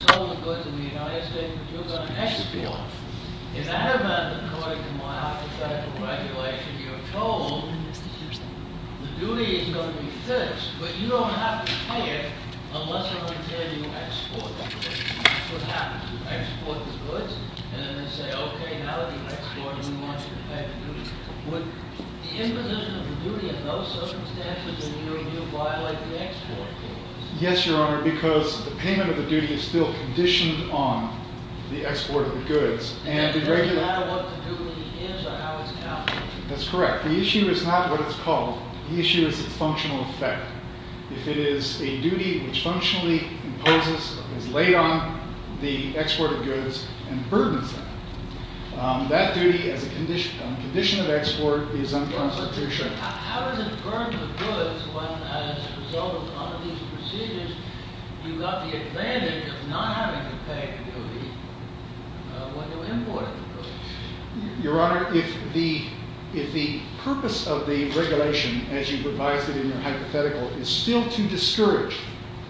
You told the goods in the United States that you were going to export. In that event, according to my architectural regulation, you're told the duty is going to be fixed, but you don't have to pay it unless I tell you to export the goods. What happens? You export the goods, and then they say, okay, now that you've exported, we want you to pay the duty. Would the imposition of the duty in those circumstances in your review violate the export rules? Yes, Your Honor, because the payment of the duty is still conditioned on the export of the goods. Does it matter what the duty is or how it's calculated? That's correct. The issue is not what it's called. The issue is its functional effect. If it is a duty which functionally imposes, is laid on the export of goods and burdens them, that duty as a condition of export is unconstitutional. How does it burden the goods when, as a result of one of these procedures, you've got the advantage of not having to pay the duty when you're importing the goods? Your Honor, if the purpose of the regulation, as you've revised it in your hypothetical, is still to discourage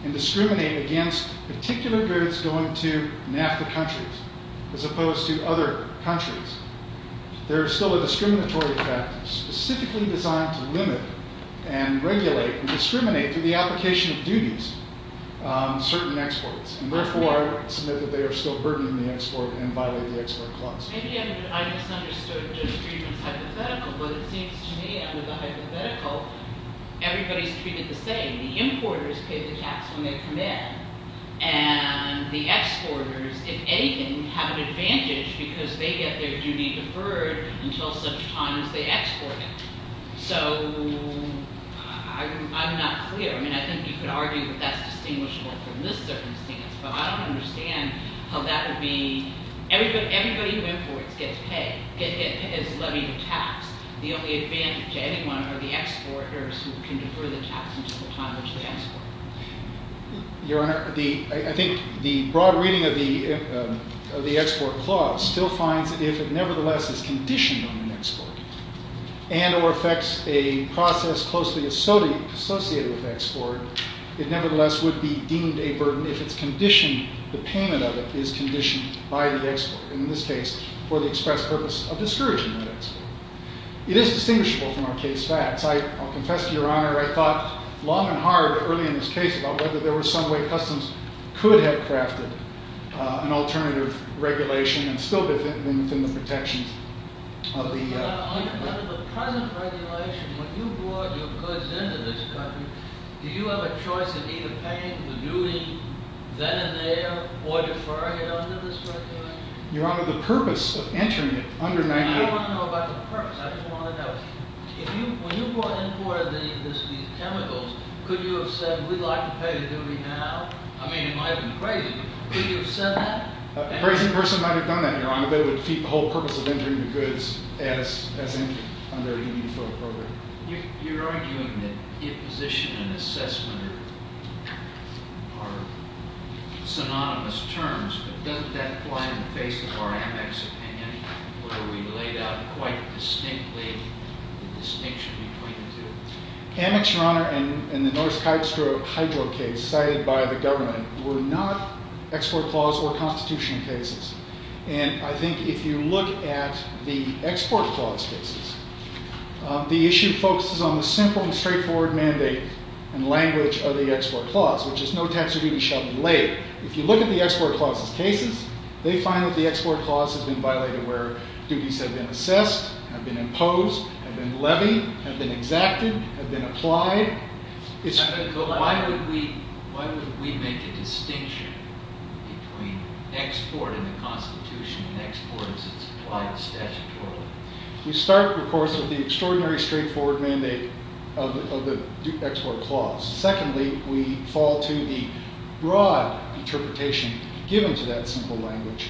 and discriminate against particular goods going to NAFTA countries as opposed to other countries, there is still a discriminatory effect specifically designed to limit and regulate and discriminate through the application of duties certain exports. Therefore, I would submit that they are still burdening the export and violate the export clause. Maybe I misunderstood Judge Friedman's hypothetical, but it seems to me under the hypothetical, everybody's treated the same. The importers pay the tax when they come in, and the exporters, if anything, have an advantage because they get their duty deferred until such time as they export it. So I'm not clear. I mean, I think you could argue that that's distinguishable from this circumstance, but I don't understand how that would be—everybody who imports gets paid, is levied a tax. The only advantage to anyone are the exporters who can defer the tax until the time they export. Your Honor, I think the broad reading of the export clause still finds that if it nevertheless is conditioned on an export and or affects a process closely associated with export, it nevertheless would be deemed a burden if the payment of it is conditioned by the export, and in this case, for the express purpose of discouraging that export. It is distinguishable from our case facts. I'll confess to Your Honor, I thought long and hard early in this case about whether there was some way Customs could have crafted an alternative regulation and still be within the protections of the— Your Honor, under the present regulation, when you brought your goods into this country, do you have a choice of either paying the duty then and there or deferring it under this regulation? Your Honor, the purpose of entering it— I don't want to know about the purpose. I just want to know, if you—when you bought and imported these chemicals, could you have said, we'd like to pay the duty now? I mean, it might have been crazy, but could you have said that? A crazy person might have done that, Your Honor, but it would defeat the whole purpose of entering the goods as entered under a duty-deferred program. You're arguing that imposition and assessment are synonymous terms, but doesn't that apply in the face of our Amex opinion, where we laid out quite distinctly the distinction between the two? Amex, Your Honor, and the Norse hydro case cited by the government were not export clause or constitutional cases. And I think if you look at the export clause cases, the issue focuses on the simple and straightforward mandate and language of the export clause, which is no tax or duty shall be laid. If you look at the export clause cases, they find that the export clause has been violated where duties have been assessed, have been imposed, have been levied, have been exacted, have been applied. Why would we make a distinction between export and the Constitution and export as it's applied statutorily? We start, of course, with the extraordinary straightforward mandate of the export clause. Secondly, we fall to the broad interpretation given to that simple language.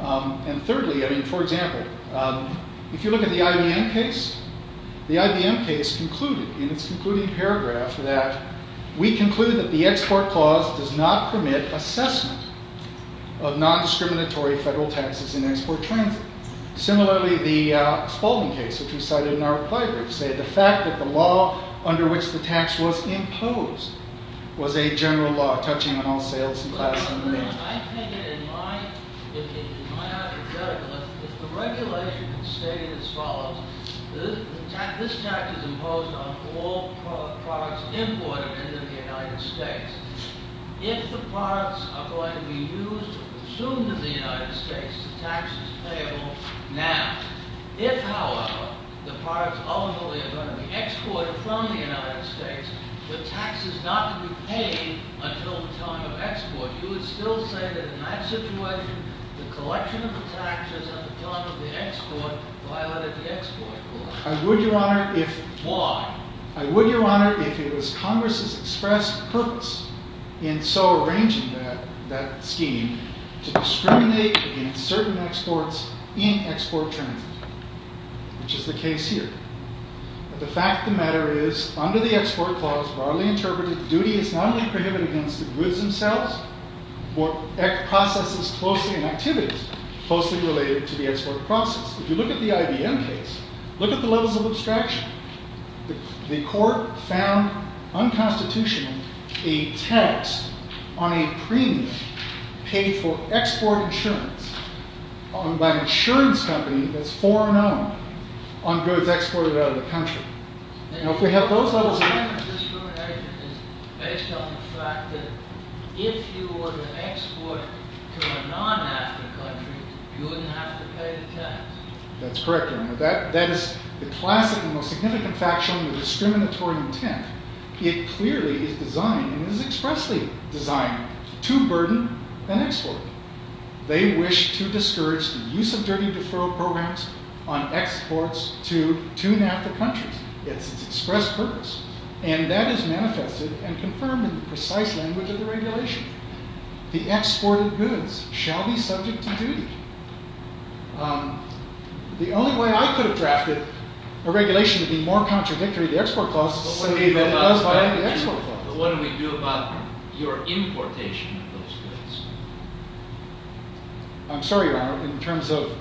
And thirdly, I mean, for example, if you look at the IBM case, the IBM case concluded in its concluding paragraph that we conclude that the export clause does not permit assessment of nondiscriminatory federal taxes in export transit. Similarly, the Spalding case, which we cited in our reply brief, said the fact that the law under which the tax was imposed was a general law touching on all sales and class. I think that in my argument, if the regulation had stated as follows, this tax is imposed on all products imported into the United States. If the products are going to be used or consumed in the United States, the tax is payable now. If, however, the products ultimately are going to be exported from the United States, the tax is not going to be paid until the time of export. You would still say that in that situation, the collection of the taxes at the time of the export violated the export clause. Why? I would, Your Honor, if it was Congress's express purpose in so arranging that scheme to discriminate against certain exports in export transit, which is the case here. But the fact of the matter is, under the export clause broadly interpreted, duty is not only prohibited against the goods themselves, but processes closely and activities closely related to the export process. If you look at the IBM case, look at the levels of abstraction. The court found unconstitutional a tax on a premium paid for export insurance by an insurance company that's foreign owned on goods exported out of the country. Now, if we have those levels of abstraction... That's correct, Your Honor. That is the classic and most significant factual and discriminatory intent. It clearly is designed, and is expressly designed, to burden an export. They wish to discourage the use of dirty deferral programs on exports to tune after countries. It's its express purpose. And that is manifested and confirmed in the precise language of the regulation. The exported goods shall be subject to duty. The only way I could have drafted a regulation to be more contradictory to the export clause is to say that it does violate the export clause. But what do we do about your importation of those goods? I'm sorry, Your Honor, in terms of...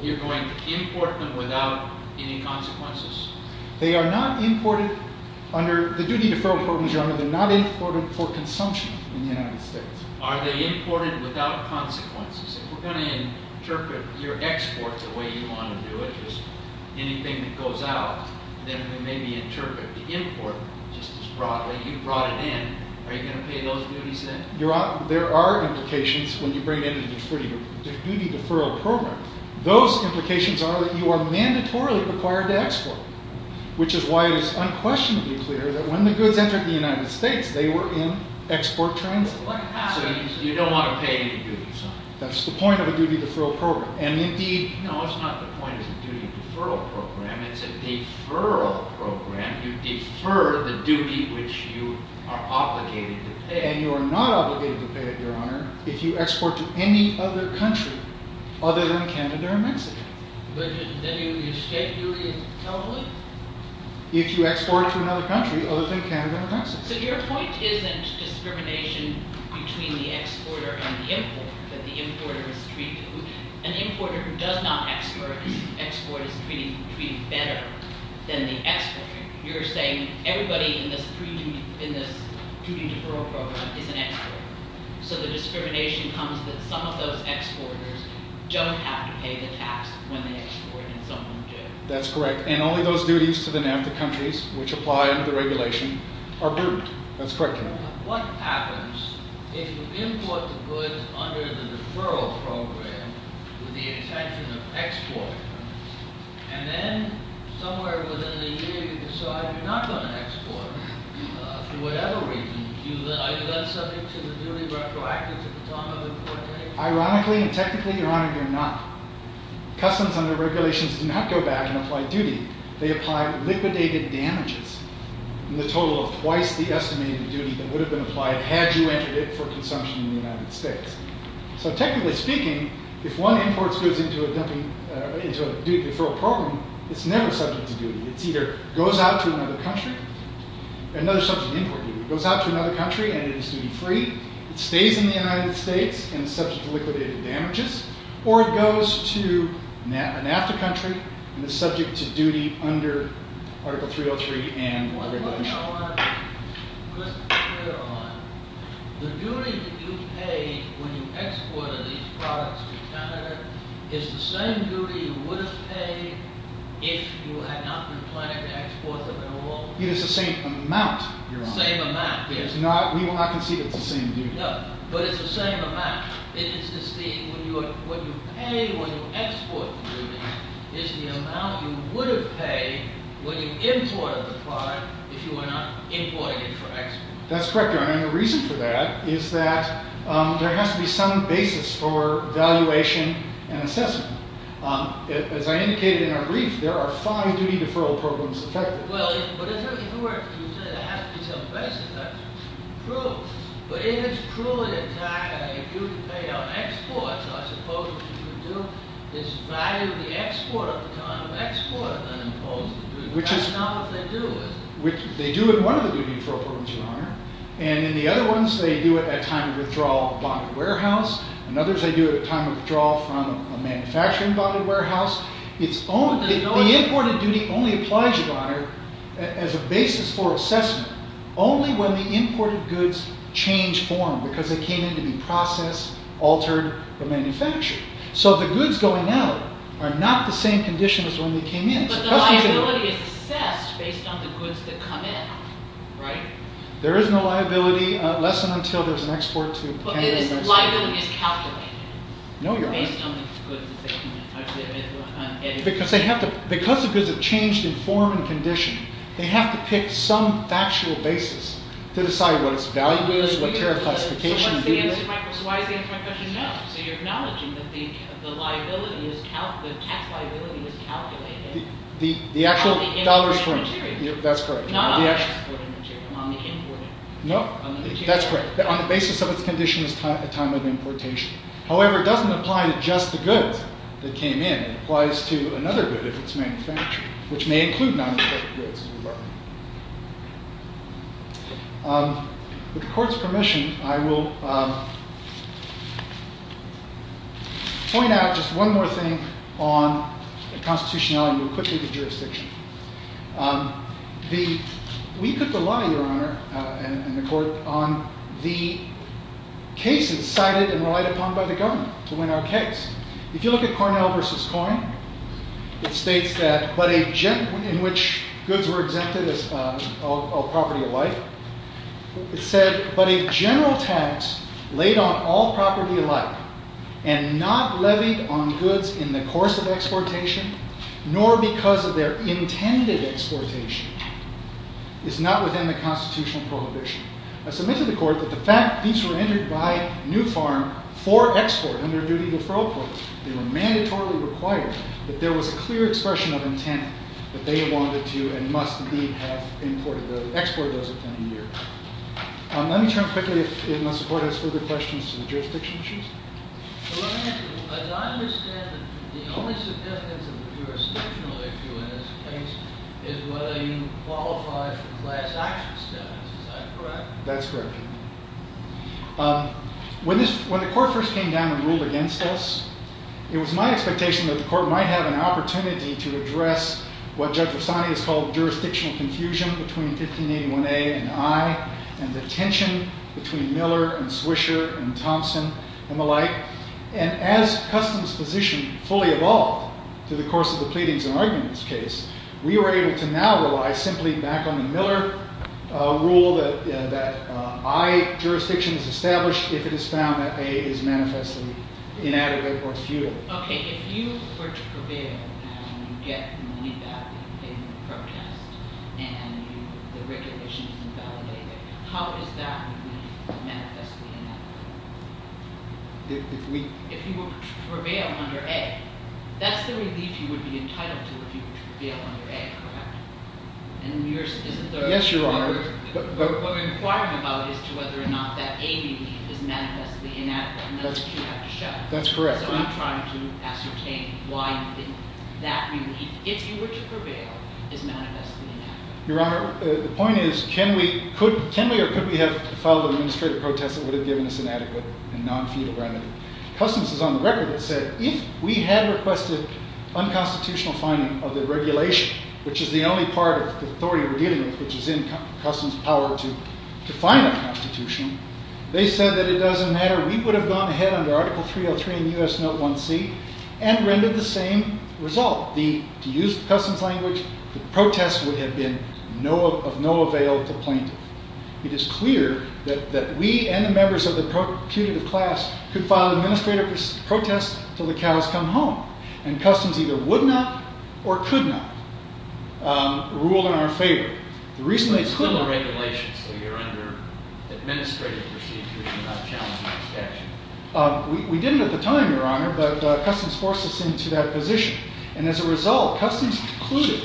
You're going to import them without any consequences? They are not imported under... the duty deferral programs, Your Honor, they're not imported for consumption in the United States. Are they imported without consequences? If we're going to interpret your export the way you want to do it, just anything that goes out, then we maybe interpret the import just as broadly. You brought it in. Are you going to pay those duties then? There are implications when you bring in a duty deferral program. Those implications are that you are mandatorily required to export. Which is why it is unquestionably clear that when the goods entered the United States, they were in export transit. So you don't want to pay any duties on them? That's the point of a duty deferral program. No, it's not the point of a duty deferral program. It's a deferral program. You defer the duty which you are obligated to pay. And you are not obligated to pay it, Your Honor, if you export to any other country other than Canada or Mexico. But then you escape duty in California? If you export to another country other than Canada or Mexico. So your point isn't discrimination between the exporter and the importer, that the importer is treated – an importer who does not export is treated better than the exporter. You're saying everybody in this duty deferral program is an exporter. So the discrimination comes that some of those exporters don't have to pay the tax when they export and some of them do. That's correct. And only those duties to the NAFTA countries which apply under the regulation are grouped. That's correct, Your Honor. What happens if you import the goods under the deferral program with the intention of export? And then somewhere within a year you decide you're not going to export for whatever reason. Are you then subject to the duty retroactively at the time of importation? Ironically and technically, Your Honor, you're not. Customs under regulations do not go back and apply duty. They apply liquidated damages in the total of twice the estimated duty that would have been applied had you entered it for consumption in the United States. So technically speaking, if one imports goods into a duty deferral program, it's never subject to duty. It either goes out to another country – another subject to import duty. It goes out to another country and it is duty free. It stays in the United States and is subject to liquidated damages. Or it goes to a NAFTA country and is subject to duty under Article 303 and the regulation. Just to be clear, Your Honor, the duty that you pay when you export these products to Canada is the same duty you would have paid if you had not been planning to export them at all? It is the same amount, Your Honor. Same amount, yes. We will not concede it's the same duty. No, but it's the same amount. It is the – what you pay when you export the duty is the amount you would have paid when you imported the product if you were not importing it for export. That's correct, Your Honor. And the reason for that is that there has to be some basis for valuation and assessment. As I indicated in our brief, there are five duty deferral programs affected. Well, but as you said, there has to be some basis. That's true. But it is truly a tax that you pay on exports. I suppose what you would do is value the export at the time of export than impose the duty. That's not what they do, is it? They do it in one of the duty deferral programs, Your Honor. And in the other ones, they do it at time of withdrawal of a bonded warehouse. In others, they do it at time of withdrawal from a manufacturing bonded warehouse. The imported duty only applies, Your Honor, as a basis for assessment only when the imported goods change form because they came in to be processed, altered, or manufactured. So the goods going out are not the same condition as when they came in. But the liability is assessed based on the goods that come in, right? There is no liability less than until there is an export to Canada. No, Your Honor. Because the goods have changed in form and condition, they have to pick some factual basis to decide what its value is, what their classification is. The actual dollars from it. That's correct. No, that's correct. On the basis of its condition, it's a time of importation. However, it doesn't apply to just the goods that came in. It applies to another good if it's manufactured, which may include non-exported goods, as we learned. With the Court's permission, I will point out just one more thing on constitutionality. We'll quickly go to jurisdiction. We put the lie, Your Honor and the Court, on the cases cited and relied upon by the government to win our case. If you look at Cornell v. Coyne, it states that, in which goods were exempted of property of life, it said, but if general tax laid on all property of life and not levied on goods in the course of exportation, nor because of their intended exportation, is not within the constitutional prohibition. I submit to the Court that the fact that these were entered by New Farm for export under duty of referral court, they were mandatorily required, that there was a clear expression of intent that they wanted to and must have imported those goods. Let me turn quickly, if my support has further questions, to the jurisdiction issues. As I understand it, the only significance of the jurisdictional issue in this case is whether you qualify for class action status. Is that correct? That's correct. When the Court first came down and ruled against us, it was my expectation that the Court might have an opportunity to address what Judge Varsani has called jurisdictional confusion between 1581A and I, and the tension between Miller and Swisher and Thompson and the like. And as Custom's position fully evolved through the course of the pleadings and arguments case, we were able to now rely simply back on the Miller rule that I jurisdiction is established if it is found that A is manifestly inadequate or futile. Okay, if you were to prevail and you get money back in the protest and the regulation is invalidated, how is that relief manifestly inadequate? If we- If you were to prevail under A, that's the relief you would be entitled to if you were to prevail under A, correct? Yes, Your Honor. What we're inquiring about is whether or not that A relief is manifestly inadequate, and that's what you have to show. That's correct. So I'm trying to ascertain why that relief, if you were to prevail, is manifestly inadequate. Your Honor, the point is, can we or could we have filed an administrative protest that would have given us an adequate and non-futile remedy? Custom's is on the record that said, if we had requested unconstitutional finding of the regulation, which is the only part of the authority we're dealing with which is in Custom's power to define unconstitutional, they said that it doesn't matter. We would have gone ahead under Article 303 and U.S. Note 1C and rendered the same result. To use Custom's language, the protest would have been of no avail to plaintiff. It is clear that we and the members of the procurative class could file an administrative protest until the cows come home, and Custom's either would not or could not rule in our favor. So you're under regulation, so you're under administrative procedures and not challenged by statute. We didn't at the time, Your Honor, but Custom's forced us into that position. And as a result, Custom's concluded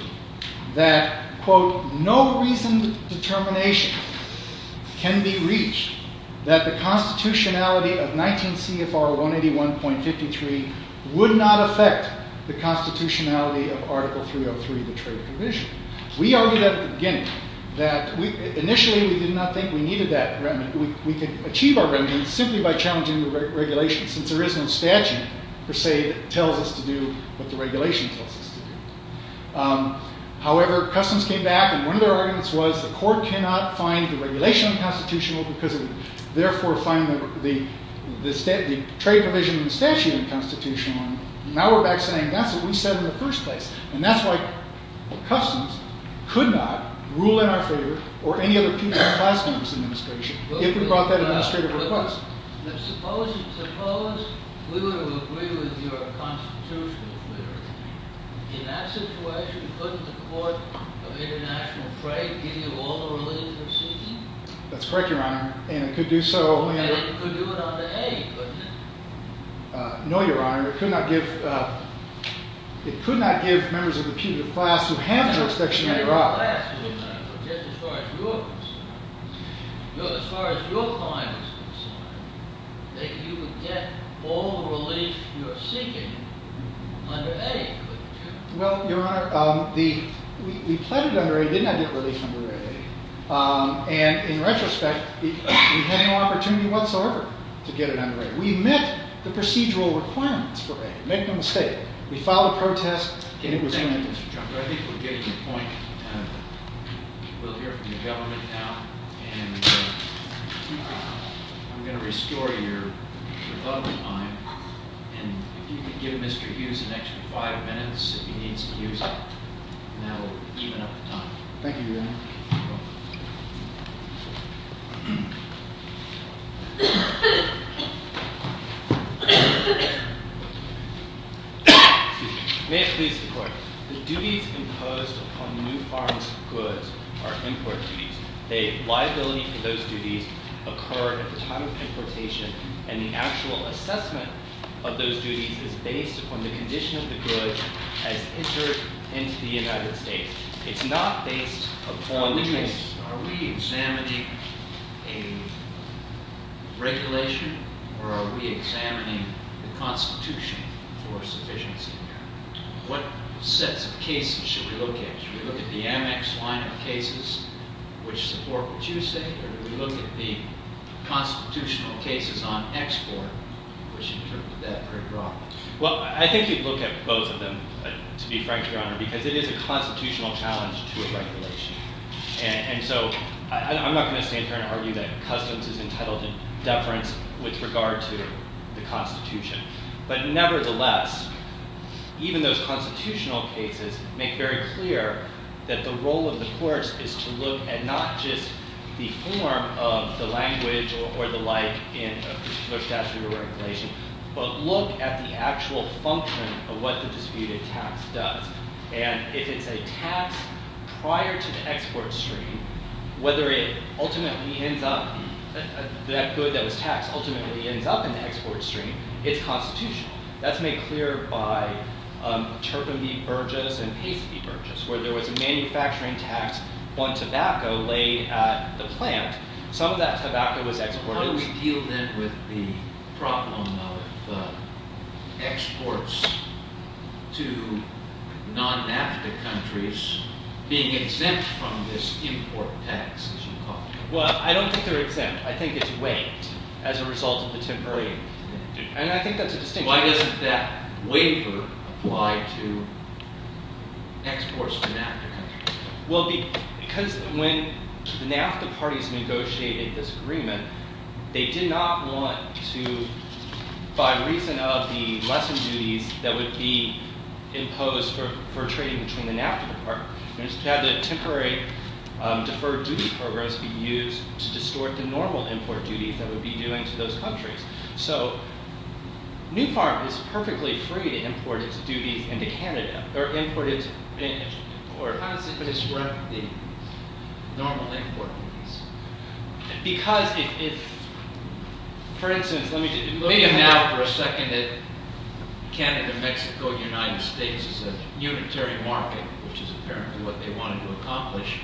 that, quote, no reasoned determination can be reached that the constitutionality of 19 CFR 181.53 would not affect the constitutionality of Article 303, the trade provision. We argued at the beginning that initially we did not think we needed that remedy. We could achieve our remedy simply by challenging the regulations, since there is no statute, per se, that tells us to do what the regulation tells us to do. However, Custom's came back, and one of their arguments was the court cannot find the regulation unconstitutional because it would therefore find the trade provision in the statute unconstitutional. Now we're back saying that's what we said in the first place. And that's why Custom's could not rule in our favor or any other piece in the last administration if we brought that administrative request. Suppose we were to agree with your constitutional theory. In that situation, couldn't the court of international trade give you all the related proceedings? That's correct, Your Honor, and it could do so. And it could do it under A, couldn't it? No, Your Honor. It could not give members of the punitive class who have an inspection in their office. Just as far as you're concerned, as far as your client is concerned, that you would get all the relief you're seeking under A, couldn't you? Well, Your Honor, we pledged under A. We did not get relief under A. And in retrospect, we had no opportunity whatsoever to get it under A. We met the procedural requirements for A. Make no mistake. We filed a protest, and it was in. Thank you, Mr. Chunker. I think we're getting the point. We'll hear from the government now, and I'm going to restore your rebuttal time. And if you could give Mr. Hughes an extra five minutes if he needs to use it, and that will even up the time. Thank you, Your Honor. Excuse me. May it please the Court. The duties imposed upon new farms of goods are import duties. The liability for those duties occur at the time of importation, and the actual assessment of those duties is based upon the condition of the goods as entered into the United States. It's not based upon the- Are we examining a regulation, or are we examining the Constitution for sufficiency there? What sets of cases should we look at? Should we look at the Amex line of cases, which support what you say, or do we look at the constitutional cases on export, which interpret that pretty broadly? Well, I think you'd look at both of them, to be frank, Your Honor, because it is a constitutional challenge to a regulation. And so I'm not going to stand here and argue that customs is entitled to deference with regard to the Constitution. But nevertheless, even those constitutional cases make very clear that the role of the courts is to look at not just the form of the language or the like in a particular statute or regulation, but look at the actual function of what the disputed tax does. And if it's a tax prior to the export stream, whether it ultimately ends up- that good that was taxed ultimately ends up in the export stream, it's constitutional. That's made clear by turpentine burgess and pasty burgess, where there was a manufacturing tax on tobacco laid at the plant. Some of that tobacco was exported- The problem of exports to non-NAFTA countries being exempt from this import tax, as you call it. Well, I don't think they're exempt. I think it's waived as a result of the temporary- And I think that's a distinction. Why doesn't that waiver apply to exports to NAFTA countries? Well, because when the NAFTA parties negotiated this agreement, they did not want to- by reason of the lesson duties that would be imposed for trading between the NAFTA department. They just had the temporary deferred duty programs be used to distort the normal import duties that would be due into those countries. So, New Farm is perfectly free to import its duties into Canada. How does it disrupt the normal import duties? Because if- for instance, let me just- Maybe now for a second that Canada, Mexico, United States is a unitary market, which is apparently what they wanted to accomplish.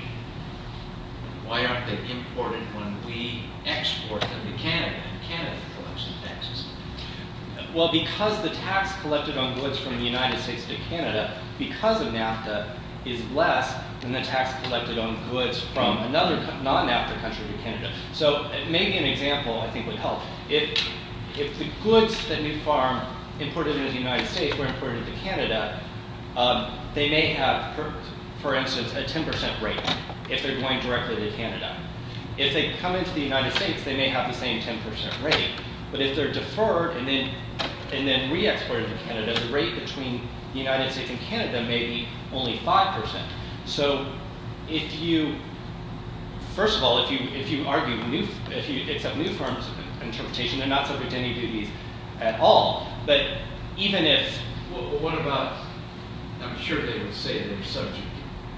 Why aren't they imported when we export them to Canada and Canada collects the taxes? Well, because the tax collected on goods from the United States to Canada, because of NAFTA, is less than the tax collected on goods from another non-NAFTA country to Canada. So, maybe an example I think would help. If the goods that New Farm imported into the United States were imported to Canada, they may have, for instance, a 10% rate if they're going directly to Canada. If they come into the United States, they may have the same 10% rate. But if they're deferred and then re-exported to Canada, the rate between the United States and Canada may be only 5%. So, if you- first of all, if you accept New Farm's interpretation, they're not subject to any duties at all. But even if- What about- I'm sure they would say they're subject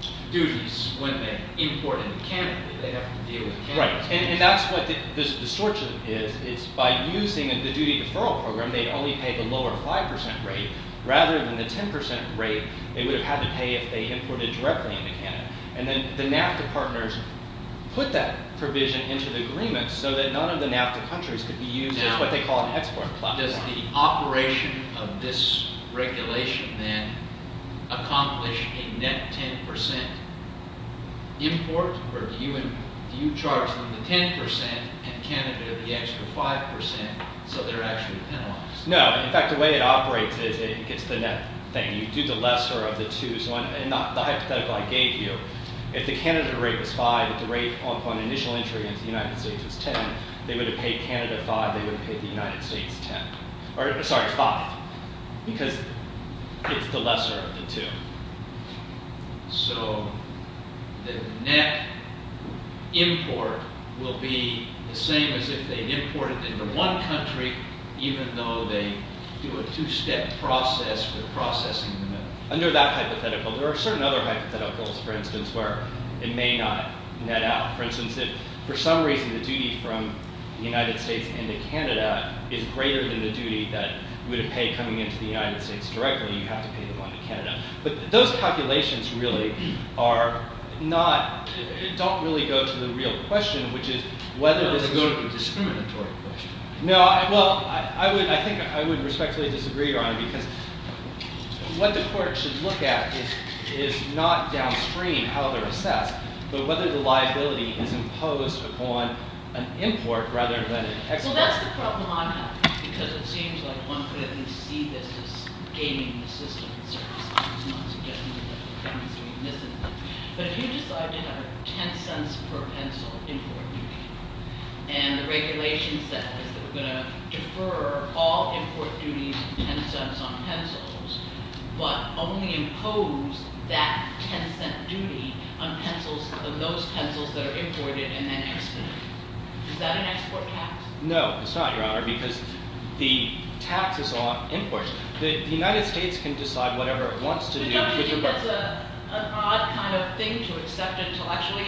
to duties when they import into Canada. They have to deal with Canada's duties. Right, and that's what the distortion is. It's by using the duty deferral program, they'd only pay the lower 5% rate. Rather than the 10% rate, they would have had to pay if they imported directly into Canada. And then the NAFTA partners put that provision into the agreement so that none of the NAFTA countries could be used as what they call an export platform. Now, does the operation of this regulation then accomplish a net 10% import? Or do you charge them the 10% and Canada the extra 5% so they're actually penalized? No. In fact, the way it operates is it gets the net thing. You do the lesser of the two. So, the hypothetical I gave you, if the Canada rate was 5, if the rate upon initial entry into the United States was 10, they would have paid Canada 5, they would have paid the United States 10. Or, sorry, 5. Because it's the lesser of the two. So, the net import will be the same as if they imported into one country even though they do a two-step process for processing the net. Under that hypothetical, there are certain other hypotheticals, for instance, where it may not net out. For instance, if for some reason the duty from the United States into Canada is greater than the duty that we would have paid coming into the United States directly, you have to pay the money to Canada. But those calculations really are not, don't really go to the real question, which is whether there's a... No, this is a discriminatory question. No, well, I think I would respectfully disagree, Your Honor, because what the court should look at is not downstream how they're assessed, but whether the liability is imposed upon an import rather than an export. Well, that's the problem I'm having, because it seems like one could at least see this as gaming the system. But if you decide to have a $0.10 per pencil import duty, and the regulation says that we're going to defer all import duties of $0.10 on pencils, but only impose that $0.10 duty on those pencils that are imported and then exported, is that an export tax? No, it's not, Your Honor, because the tax is on imports. The United States can decide whatever it wants to do. But don't you think that's an odd kind of thing to accept intellectually?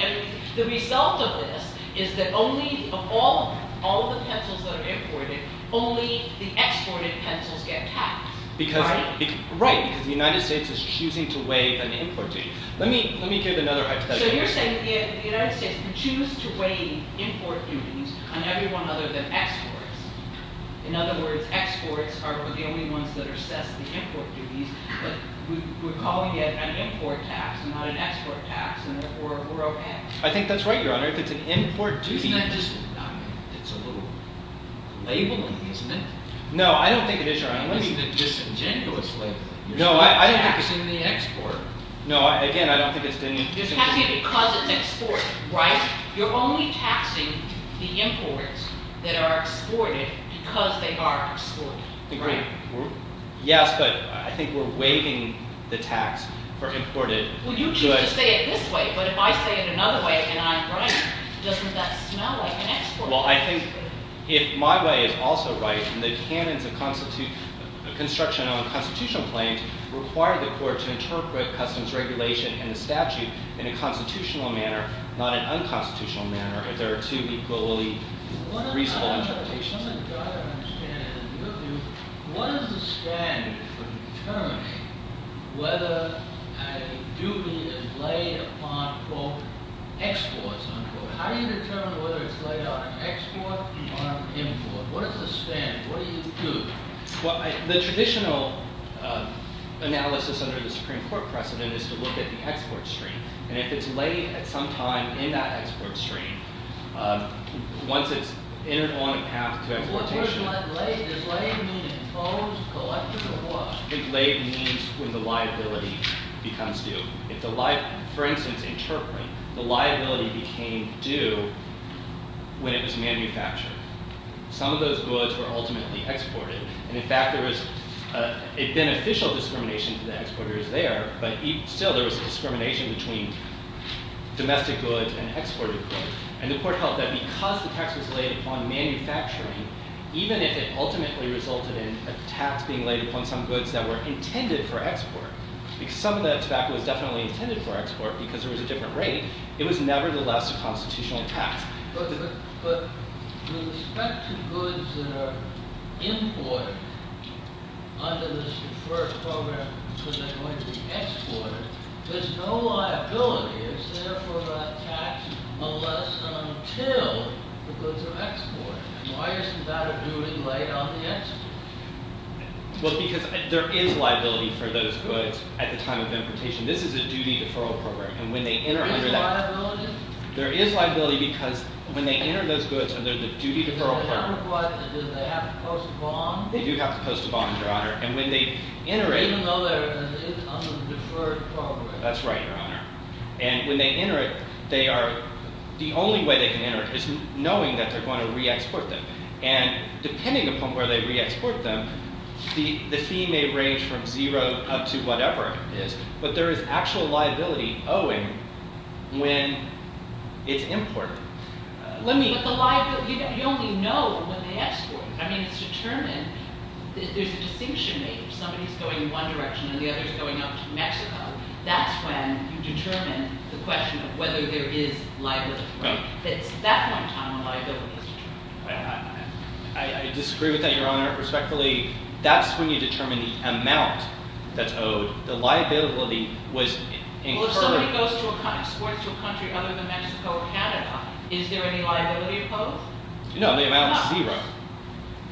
The result of this is that of all the pencils that are imported, only the exported pencils get taxed, right? Right, because the United States is choosing to weigh an import duty. Let me give another hypothetical. So you're saying the United States can choose to weigh import duties on everyone other than exports. In other words, exports are the only ones that are set as the import duties, but we're calling it an import tax and not an export tax, and therefore we're OK. I think that's right, Your Honor. If it's an import duty— Isn't that just—it's a little label-y, isn't it? No, I don't think it is, Your Honor. It's a disingenuous label. You're taxing the export. No, again, I don't think it's— You're taxing it because it's export, right? You're only taxing the imports that are exported because they are exported. Agreed. Yes, but I think we're waiving the tax for imported goods. Well, you choose to say it this way, but if I say it another way and I'm right, doesn't that smell like an export tax to me? Well, I think if my way is also right, and the canons of construction on constitutional claims require the court to interpret customs regulation and the statute in a constitutional manner, not an unconstitutional manner, if there are two equally reasonable interpretations. I'm trying to understand, in your view, what is the standard for determining whether a duty is laid upon, quote, exports, unquote? How do you determine whether it's laid on export or on import? What is the standard? What do you do? Well, the traditional analysis under the Supreme Court precedent is to look at the export stream. And if it's laid at some time in that export stream, once it's entered on a path to exploitation— Does laid mean imposed, collected, or what? I think laid means when the liability becomes due. For instance, in Turkmen, the liability became due when it was manufactured. Some of those goods were ultimately exported. And, in fact, there was a beneficial discrimination to the exporters there, but still there was discrimination between domestic goods and exported goods. And the court held that because the tax was laid upon manufacturing, even if it ultimately resulted in a tax being laid upon some goods that were intended for export, because some of the tobacco was definitely intended for export because there was a different rate, it was nevertheless a constitutional tax. But with respect to goods that are imported under this deferred program because they're going to be exported, there's no liability. Is there for a tax unless and until the goods are exported? Why isn't that a duty laid on the export? Well, because there is liability for those goods at the time of importation. This is a duty deferral program. And when they enter under that— Is there liability? There is liability because when they enter those goods under the duty deferral program— Does it have to post a bond? They do have to post a bond, Your Honor. And when they enter it— Even though they're under the deferred program. That's right, Your Honor. And when they enter it, the only way they can enter it is knowing that they're going to re-export them. And depending upon where they re-export them, the fee may range from zero up to whatever it is. But there is actual liability owing when it's imported. Let me— But the liability—you only know when they export them. I mean, it's determined. There's a distinction made. If somebody's going one direction and the other's going up to Mexico, that's when you determine the question of whether there is liability. Right. It's at that point in time when liability is determined. I disagree with that, Your Honor. Respectfully, that's when you determine the amount that's owed. The liability was incurred— Well, if somebody goes to a country—exports to a country other than Mexico or Canada, is there any liability opposed? No, the amount is zero.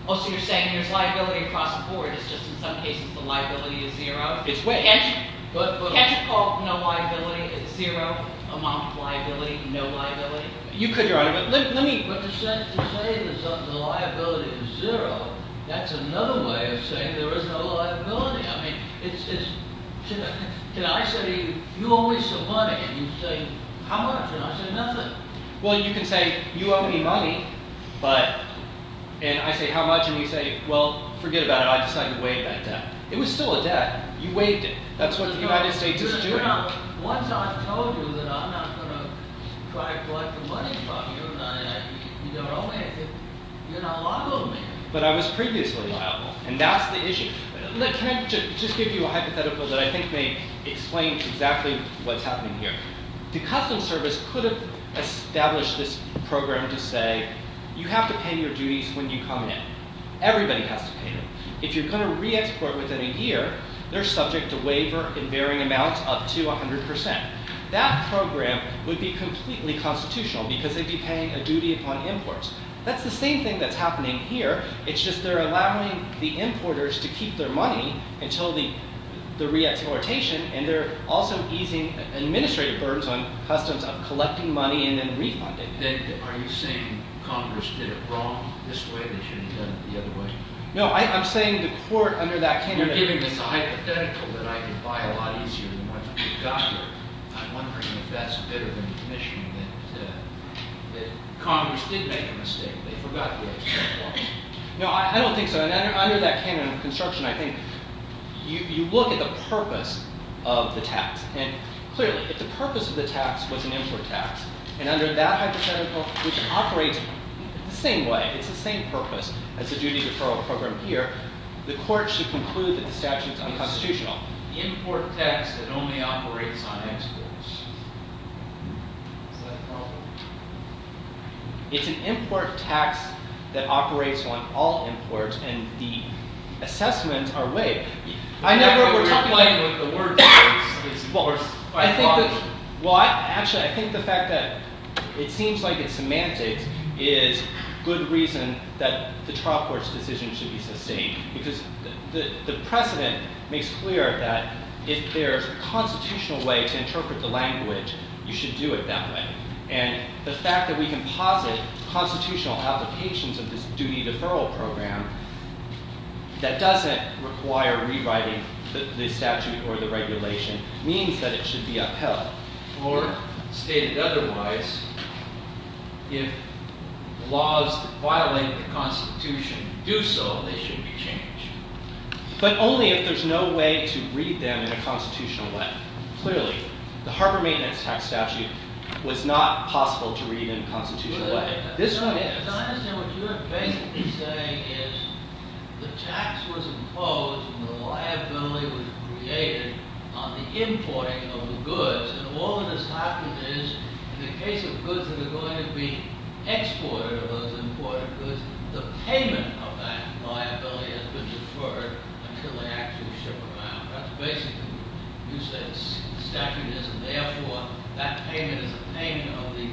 Oh, so you're saying there's liability across the board. It's just in some cases the liability is zero. It's way— Can't you call no liability at zero? Amount of liability, no liability? You could, Your Honor, but let me— But to say the liability is zero, that's another way of saying there is no liability. I mean, it's—can I say, you owe me some money, and you say, how much? And I say, nothing. Well, you can say, you owe me money, but—and I say, how much? And you say, well, forget about it. I decided to waive that debt. It was still a debt. You waived it. That's what the United States is doing. Your Honor, once I've told you that I'm not going to try to collect the money from you, and you don't owe me anything, you're not liable to me. But I was previously liable, and that's the issue. Can I just give you a hypothetical that I think may explain exactly what's happening here? The Customs Service could have established this program to say you have to pay your duties when you come in. Everybody has to pay them. If you're going to re-export within a year, they're subject to waiver in varying amounts up to 100 percent. That program would be completely constitutional because they'd be paying a duty upon imports. That's the same thing that's happening here. It's just they're allowing the importers to keep their money until the re-exportation, and they're also easing administrative burdens on Customs of collecting money and then refunding it. Then are you saying Congress did it wrong this way? They should have done it the other way? No, I'm saying the court under that candidate— You're giving us a hypothetical that I could buy a lot easier than what we've got here. I'm wondering if that's better than the commission that Congress did make a mistake. No, I don't think so. Under that canon of construction, I think you look at the purpose of the tax, and clearly if the purpose of the tax was an import tax, and under that hypothetical, which operates the same way, it's the same purpose as the duty referral program here, the court should conclude that the statute is unconstitutional. Import tax that only operates on exports. Is that a problem? It's an import tax that operates on all imports, and the assessments are vague. I never—we're talking about the word— Well, I think that—well, actually, I think the fact that it seems like it's semantics is good reason that the trial court's decision should be sustained, because the precedent makes clear that if there's a constitutional way to interpret the language, you should do it that way. And the fact that we can posit constitutional applications of this duty deferral program that doesn't require rewriting the statute or the regulation means that it should be upheld. Or, stated otherwise, if laws violating the Constitution do so, they should be changed. But only if there's no way to read them in a constitutional way. Clearly, the Harbor Maintenance Tax Statute was not possible to read in a constitutional way. But I understand what you're basically saying is the tax was imposed and the liability was created on the importing of the goods. And all that has happened is, in the case of goods that are going to be exported, those imported goods, the payment of that liability has been deferred until they actually ship them out. That's basically what you said. The statute isn't there for it. That payment is a payment of the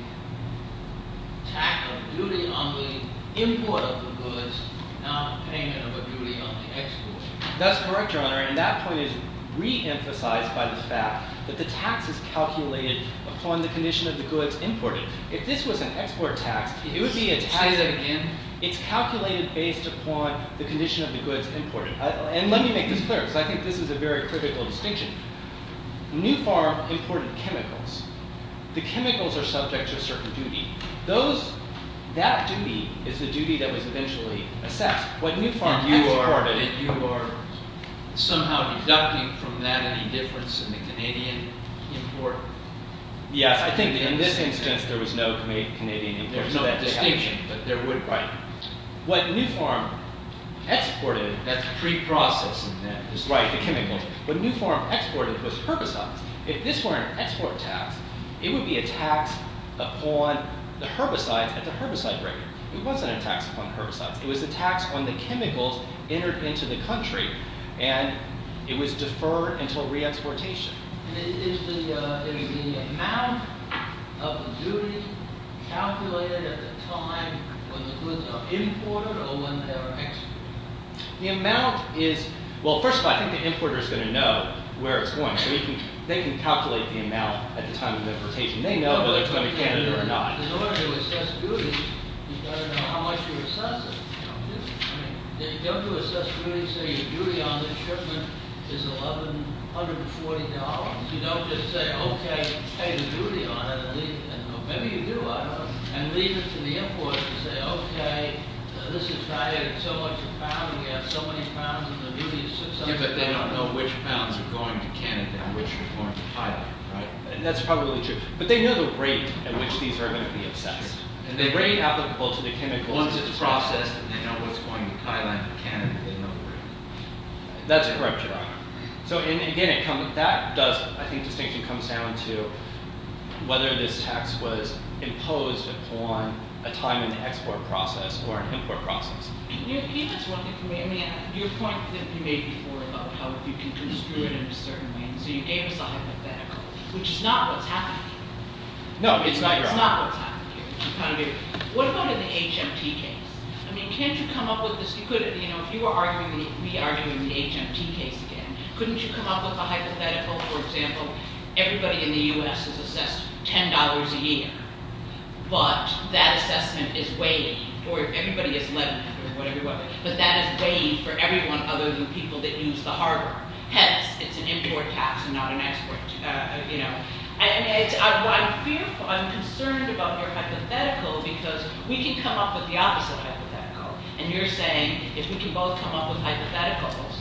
tax of duty on the import of the goods, not a payment of a duty on the export. That's correct, Your Honor. And that point is re-emphasized by the fact that the tax is calculated upon the condition of the goods imported. If this was an export tax, it would be a tax. Say that again. It's calculated based upon the condition of the goods imported. And let me make this clear because I think this is a very critical distinction. New Farm imported chemicals. The chemicals are subject to a certain duty. That duty is the duty that was eventually assessed. What New Farm exported… And you are somehow deducting from that any difference in the Canadian import? Yes, I think in this instance there was no Canadian import. There's no distinction, but there would be. Right. What New Farm exported… That's preprocessing. Right, the chemicals. What New Farm exported was herbicides. If this were an export tax, it would be a tax upon the herbicides at the herbicide rate. It wasn't a tax upon herbicides. It was a tax on the chemicals entered into the country, and it was deferred until re-exportation. Is the amount of duty calculated at the time when the goods are imported or when they are exported? The amount is… Well, first of all, I think the importer is going to know where it's going. So they can calculate the amount at the time of importation. They know whether it's going to Canada or not. In order to assess duty, you've got to know how much you're assessing. Don't you assess duty and say your duty on this shipment is $1,140? You don't just say, okay, pay the duty on it and leave it. Maybe you do, I don't know. And leave it to the importer to say, okay, this is right. It's so much a pound. We have so many pounds and the duty is so much a pound. Yeah, but they don't know which pounds are going to Canada and which are going to Thailand, right? And that's probably true. But they know the rate at which these are going to be assessed. And they rate applicable to the chemicals. Once it's processed and they know what's going to Thailand and Canada, they know where it is. That's correct, Your Honor. So, again, that does, I think, distinctly come down to whether this tax was imposed upon a time in the export process or an import process. Can you repeat this one thing for me? I mean, your point that you made before about how you can construe it in a certain way. So you gave us a hypothetical, which is not what's happening here. No, it's not, Your Honor. It's not what's happening here. What about in the HMT case? I mean, can't you come up with this? If you were re-arguing the HMT case again, couldn't you come up with a hypothetical? For example, everybody in the U.S. is assessed $10 a year. But that assessment is waived, or everybody is levied for whatever it was. But that is waived for everyone other than people that use the harbor. Hence, it's an import tax and not an export. I'm concerned about your hypothetical because we can come up with the opposite hypothetical. And you're saying if we can both come up with hypotheticals,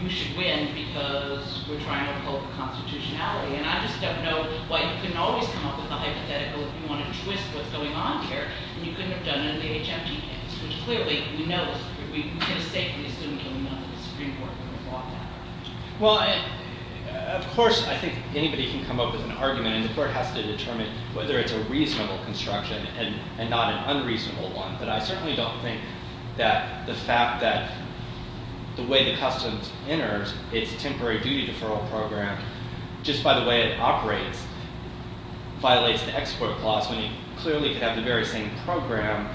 you should win because we're trying to uphold the constitutionality. And I just don't know why you couldn't always come up with a hypothetical if you want to twist what's going on here. And you couldn't have done it in the HMT case, which clearly, we know, we could have safely assumed it when we went to the Supreme Court and brought that up. Well, of course, I think anybody can come up with an argument. And the court has to determine whether it's a reasonable construction and not an unreasonable one. But I certainly don't think that the fact that the way the customs enters its temporary duty deferral program, just by the way it operates, violates the export clause. And it clearly could have the very same program,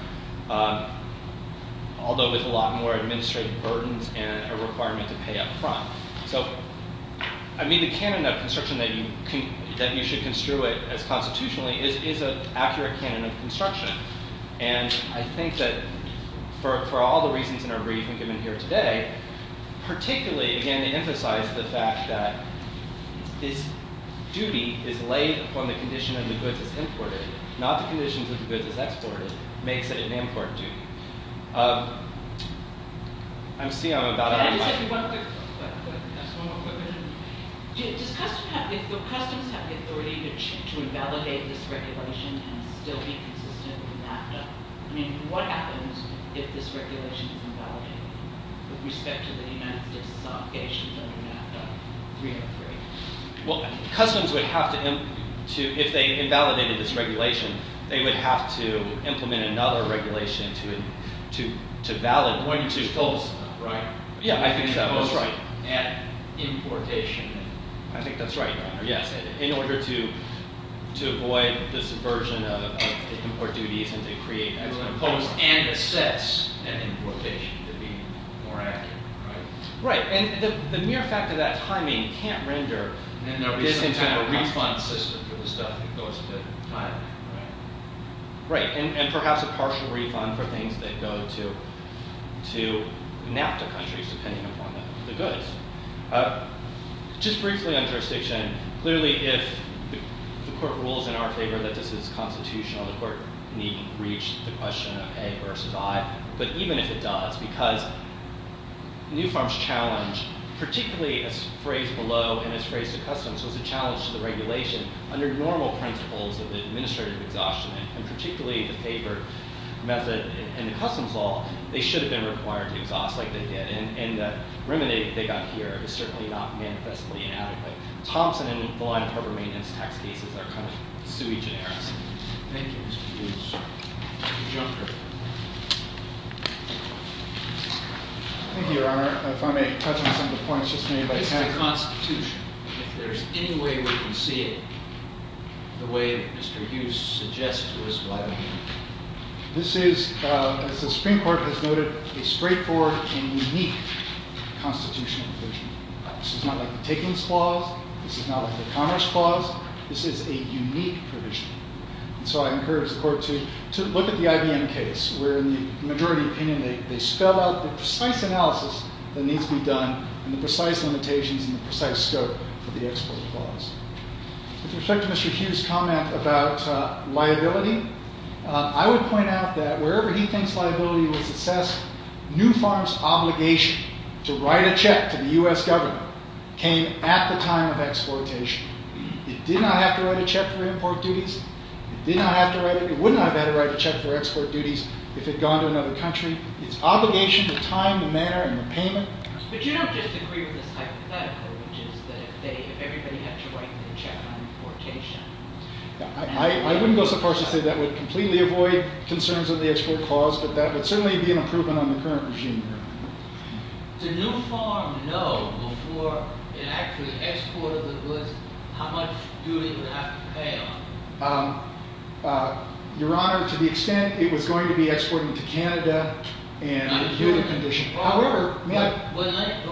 although with a lot more administrative burdens and a requirement to pay up front. So, I mean, the canon of construction that you should construe it as constitutionally is an accurate canon of construction. And I think that for all the reasons in our briefing given here today, particularly, again, to emphasize the fact that this duty is laid upon the condition of the goods that's imported, not the conditions of the goods that's exported, makes it an import duty. I'm seeing I'm about out of time. Just one more quick question. Does customs have the authority to invalidate this regulation and still be consistent with NAFTA? I mean, what happens if this regulation is invalidated with respect to the United States obligations under NAFTA 303? Well, customs would have to, if they invalidated this regulation, they would have to implement another regulation to validate it. Right. Yeah, I think that was right. At importation. I think that's right, Your Honor. Yes. In order to avoid this aversion of import duties and to create and impose and assess an importation to be more accurate, right? Right. And the mere fact of that timing can't render this into a refund system for the stuff that goes to Thailand, right? Right. And perhaps a partial refund for things that go to NAFTA countries depending upon the goods. Just briefly on jurisdiction, clearly if the court rules in our favor that this is constitutional, the court needn't reach the question of A versus I. But even if it does, because New Farm's challenge, particularly as phrased below and as phrased to customs, was a challenge to the regulation. Under normal principles of administrative exhaustion and particularly the favored method in the customs law, they should have been required to exhaust like they did. And the remuneration they got here is certainly not manifestly inadequate. Thompson and the line of harbor maintenance tax cases are kind of sui generis. Thank you, Mr. Hughes. Mr. Junker. Thank you, Your Honor. If I may touch on some of the points just made by Ken. This is a constitution. If there's any way we can see it the way Mr. Hughes suggests to us, why don't you? This is, as the Supreme Court has noted, a straightforward and unique constitutional provision. This is not like the Takings Clause. This is not like the Commerce Clause. This is a unique provision. And so I encourage the Court to look at the IBM case, where in the majority opinion they spell out the precise analysis that needs to be done and the precise limitations and the precise scope for the Export Clause. With respect to Mr. Hughes' comment about liability, I would point out that wherever he thinks liability was assessed, New Farm's obligation to write a check to the U.S. government came at the time of exportation. It did not have to write a check for import duties. It did not have to write it. It wouldn't have had to write a check for export duties if it had gone to another country. It's obligation, the time, the manner, and the payment. But you don't just agree with this hypothetical, which is that if everybody had to write the check on importation... I wouldn't go so far as to say that would completely avoid concerns of the Export Clause, but that would certainly be an improvement on the current regime, Your Honor. Did New Farm know before it actually exported the goods how much duty it would have to pay on them? Your Honor, to the extent it was going to be exporting to Canada and...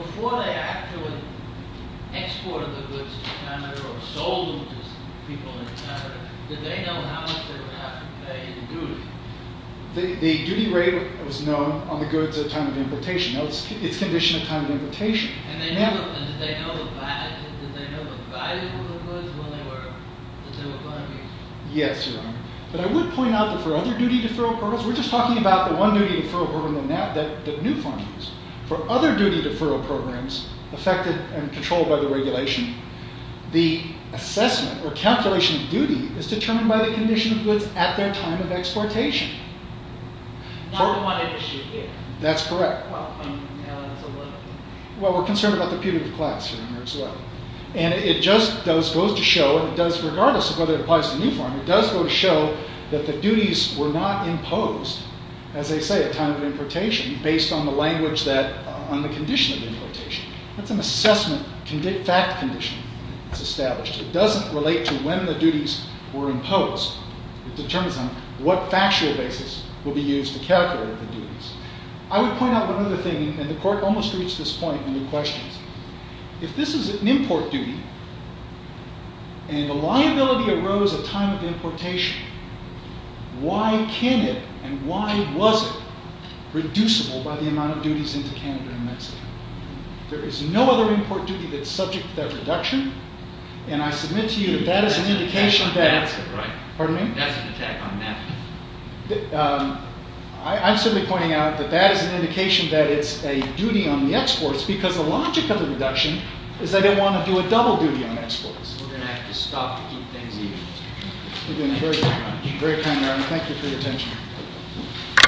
Before they actually exported the goods to Canada or sold them to people in Canada, did they know how much they would have to pay in duty? The duty rate was known on the goods at time of importation. It's condition at time of importation. And did they know what value of the goods when they were... Yes, Your Honor. But I would point out that for other duty deferral programs... We're just talking about the one duty deferral program that New Farm used. For other duty deferral programs affected and controlled by the regulation, the assessment or calculation of duty is determined by the condition of goods at their time of exportation. Not the one industry here. That's correct. Well, I mean, now that's a little... Well, we're concerned about the punitive class here, Your Honor, as well. And it just goes to show, and it does regardless of whether it applies to New Farm, it does go to show that the duties were not imposed, as they say, at time of importation, based on the language that... on the condition of importation. That's an assessment fact condition that's established. It doesn't relate to when the duties were imposed. It determines on what factual basis will be used to calculate the duties. I would point out another thing, and the Court almost reached this point in the questions. If this is an import duty, and a liability arose at time of importation, why can it and why was it reducible by the amount of duties into Canada and Mexico? There is no other import duty that's subject to that reduction, and I submit to you that that is an indication that... That's an attack on NAFTA, right? Pardon me? That's an attack on NAFTA. I'm simply pointing out that that is an indication that it's a duty on the exports because the logic of the reduction is that they want to do a double duty on exports. We're going to have to stop to keep things even. You've been very kind, Your Honor. Very kind, Your Honor. Thank you for your attention.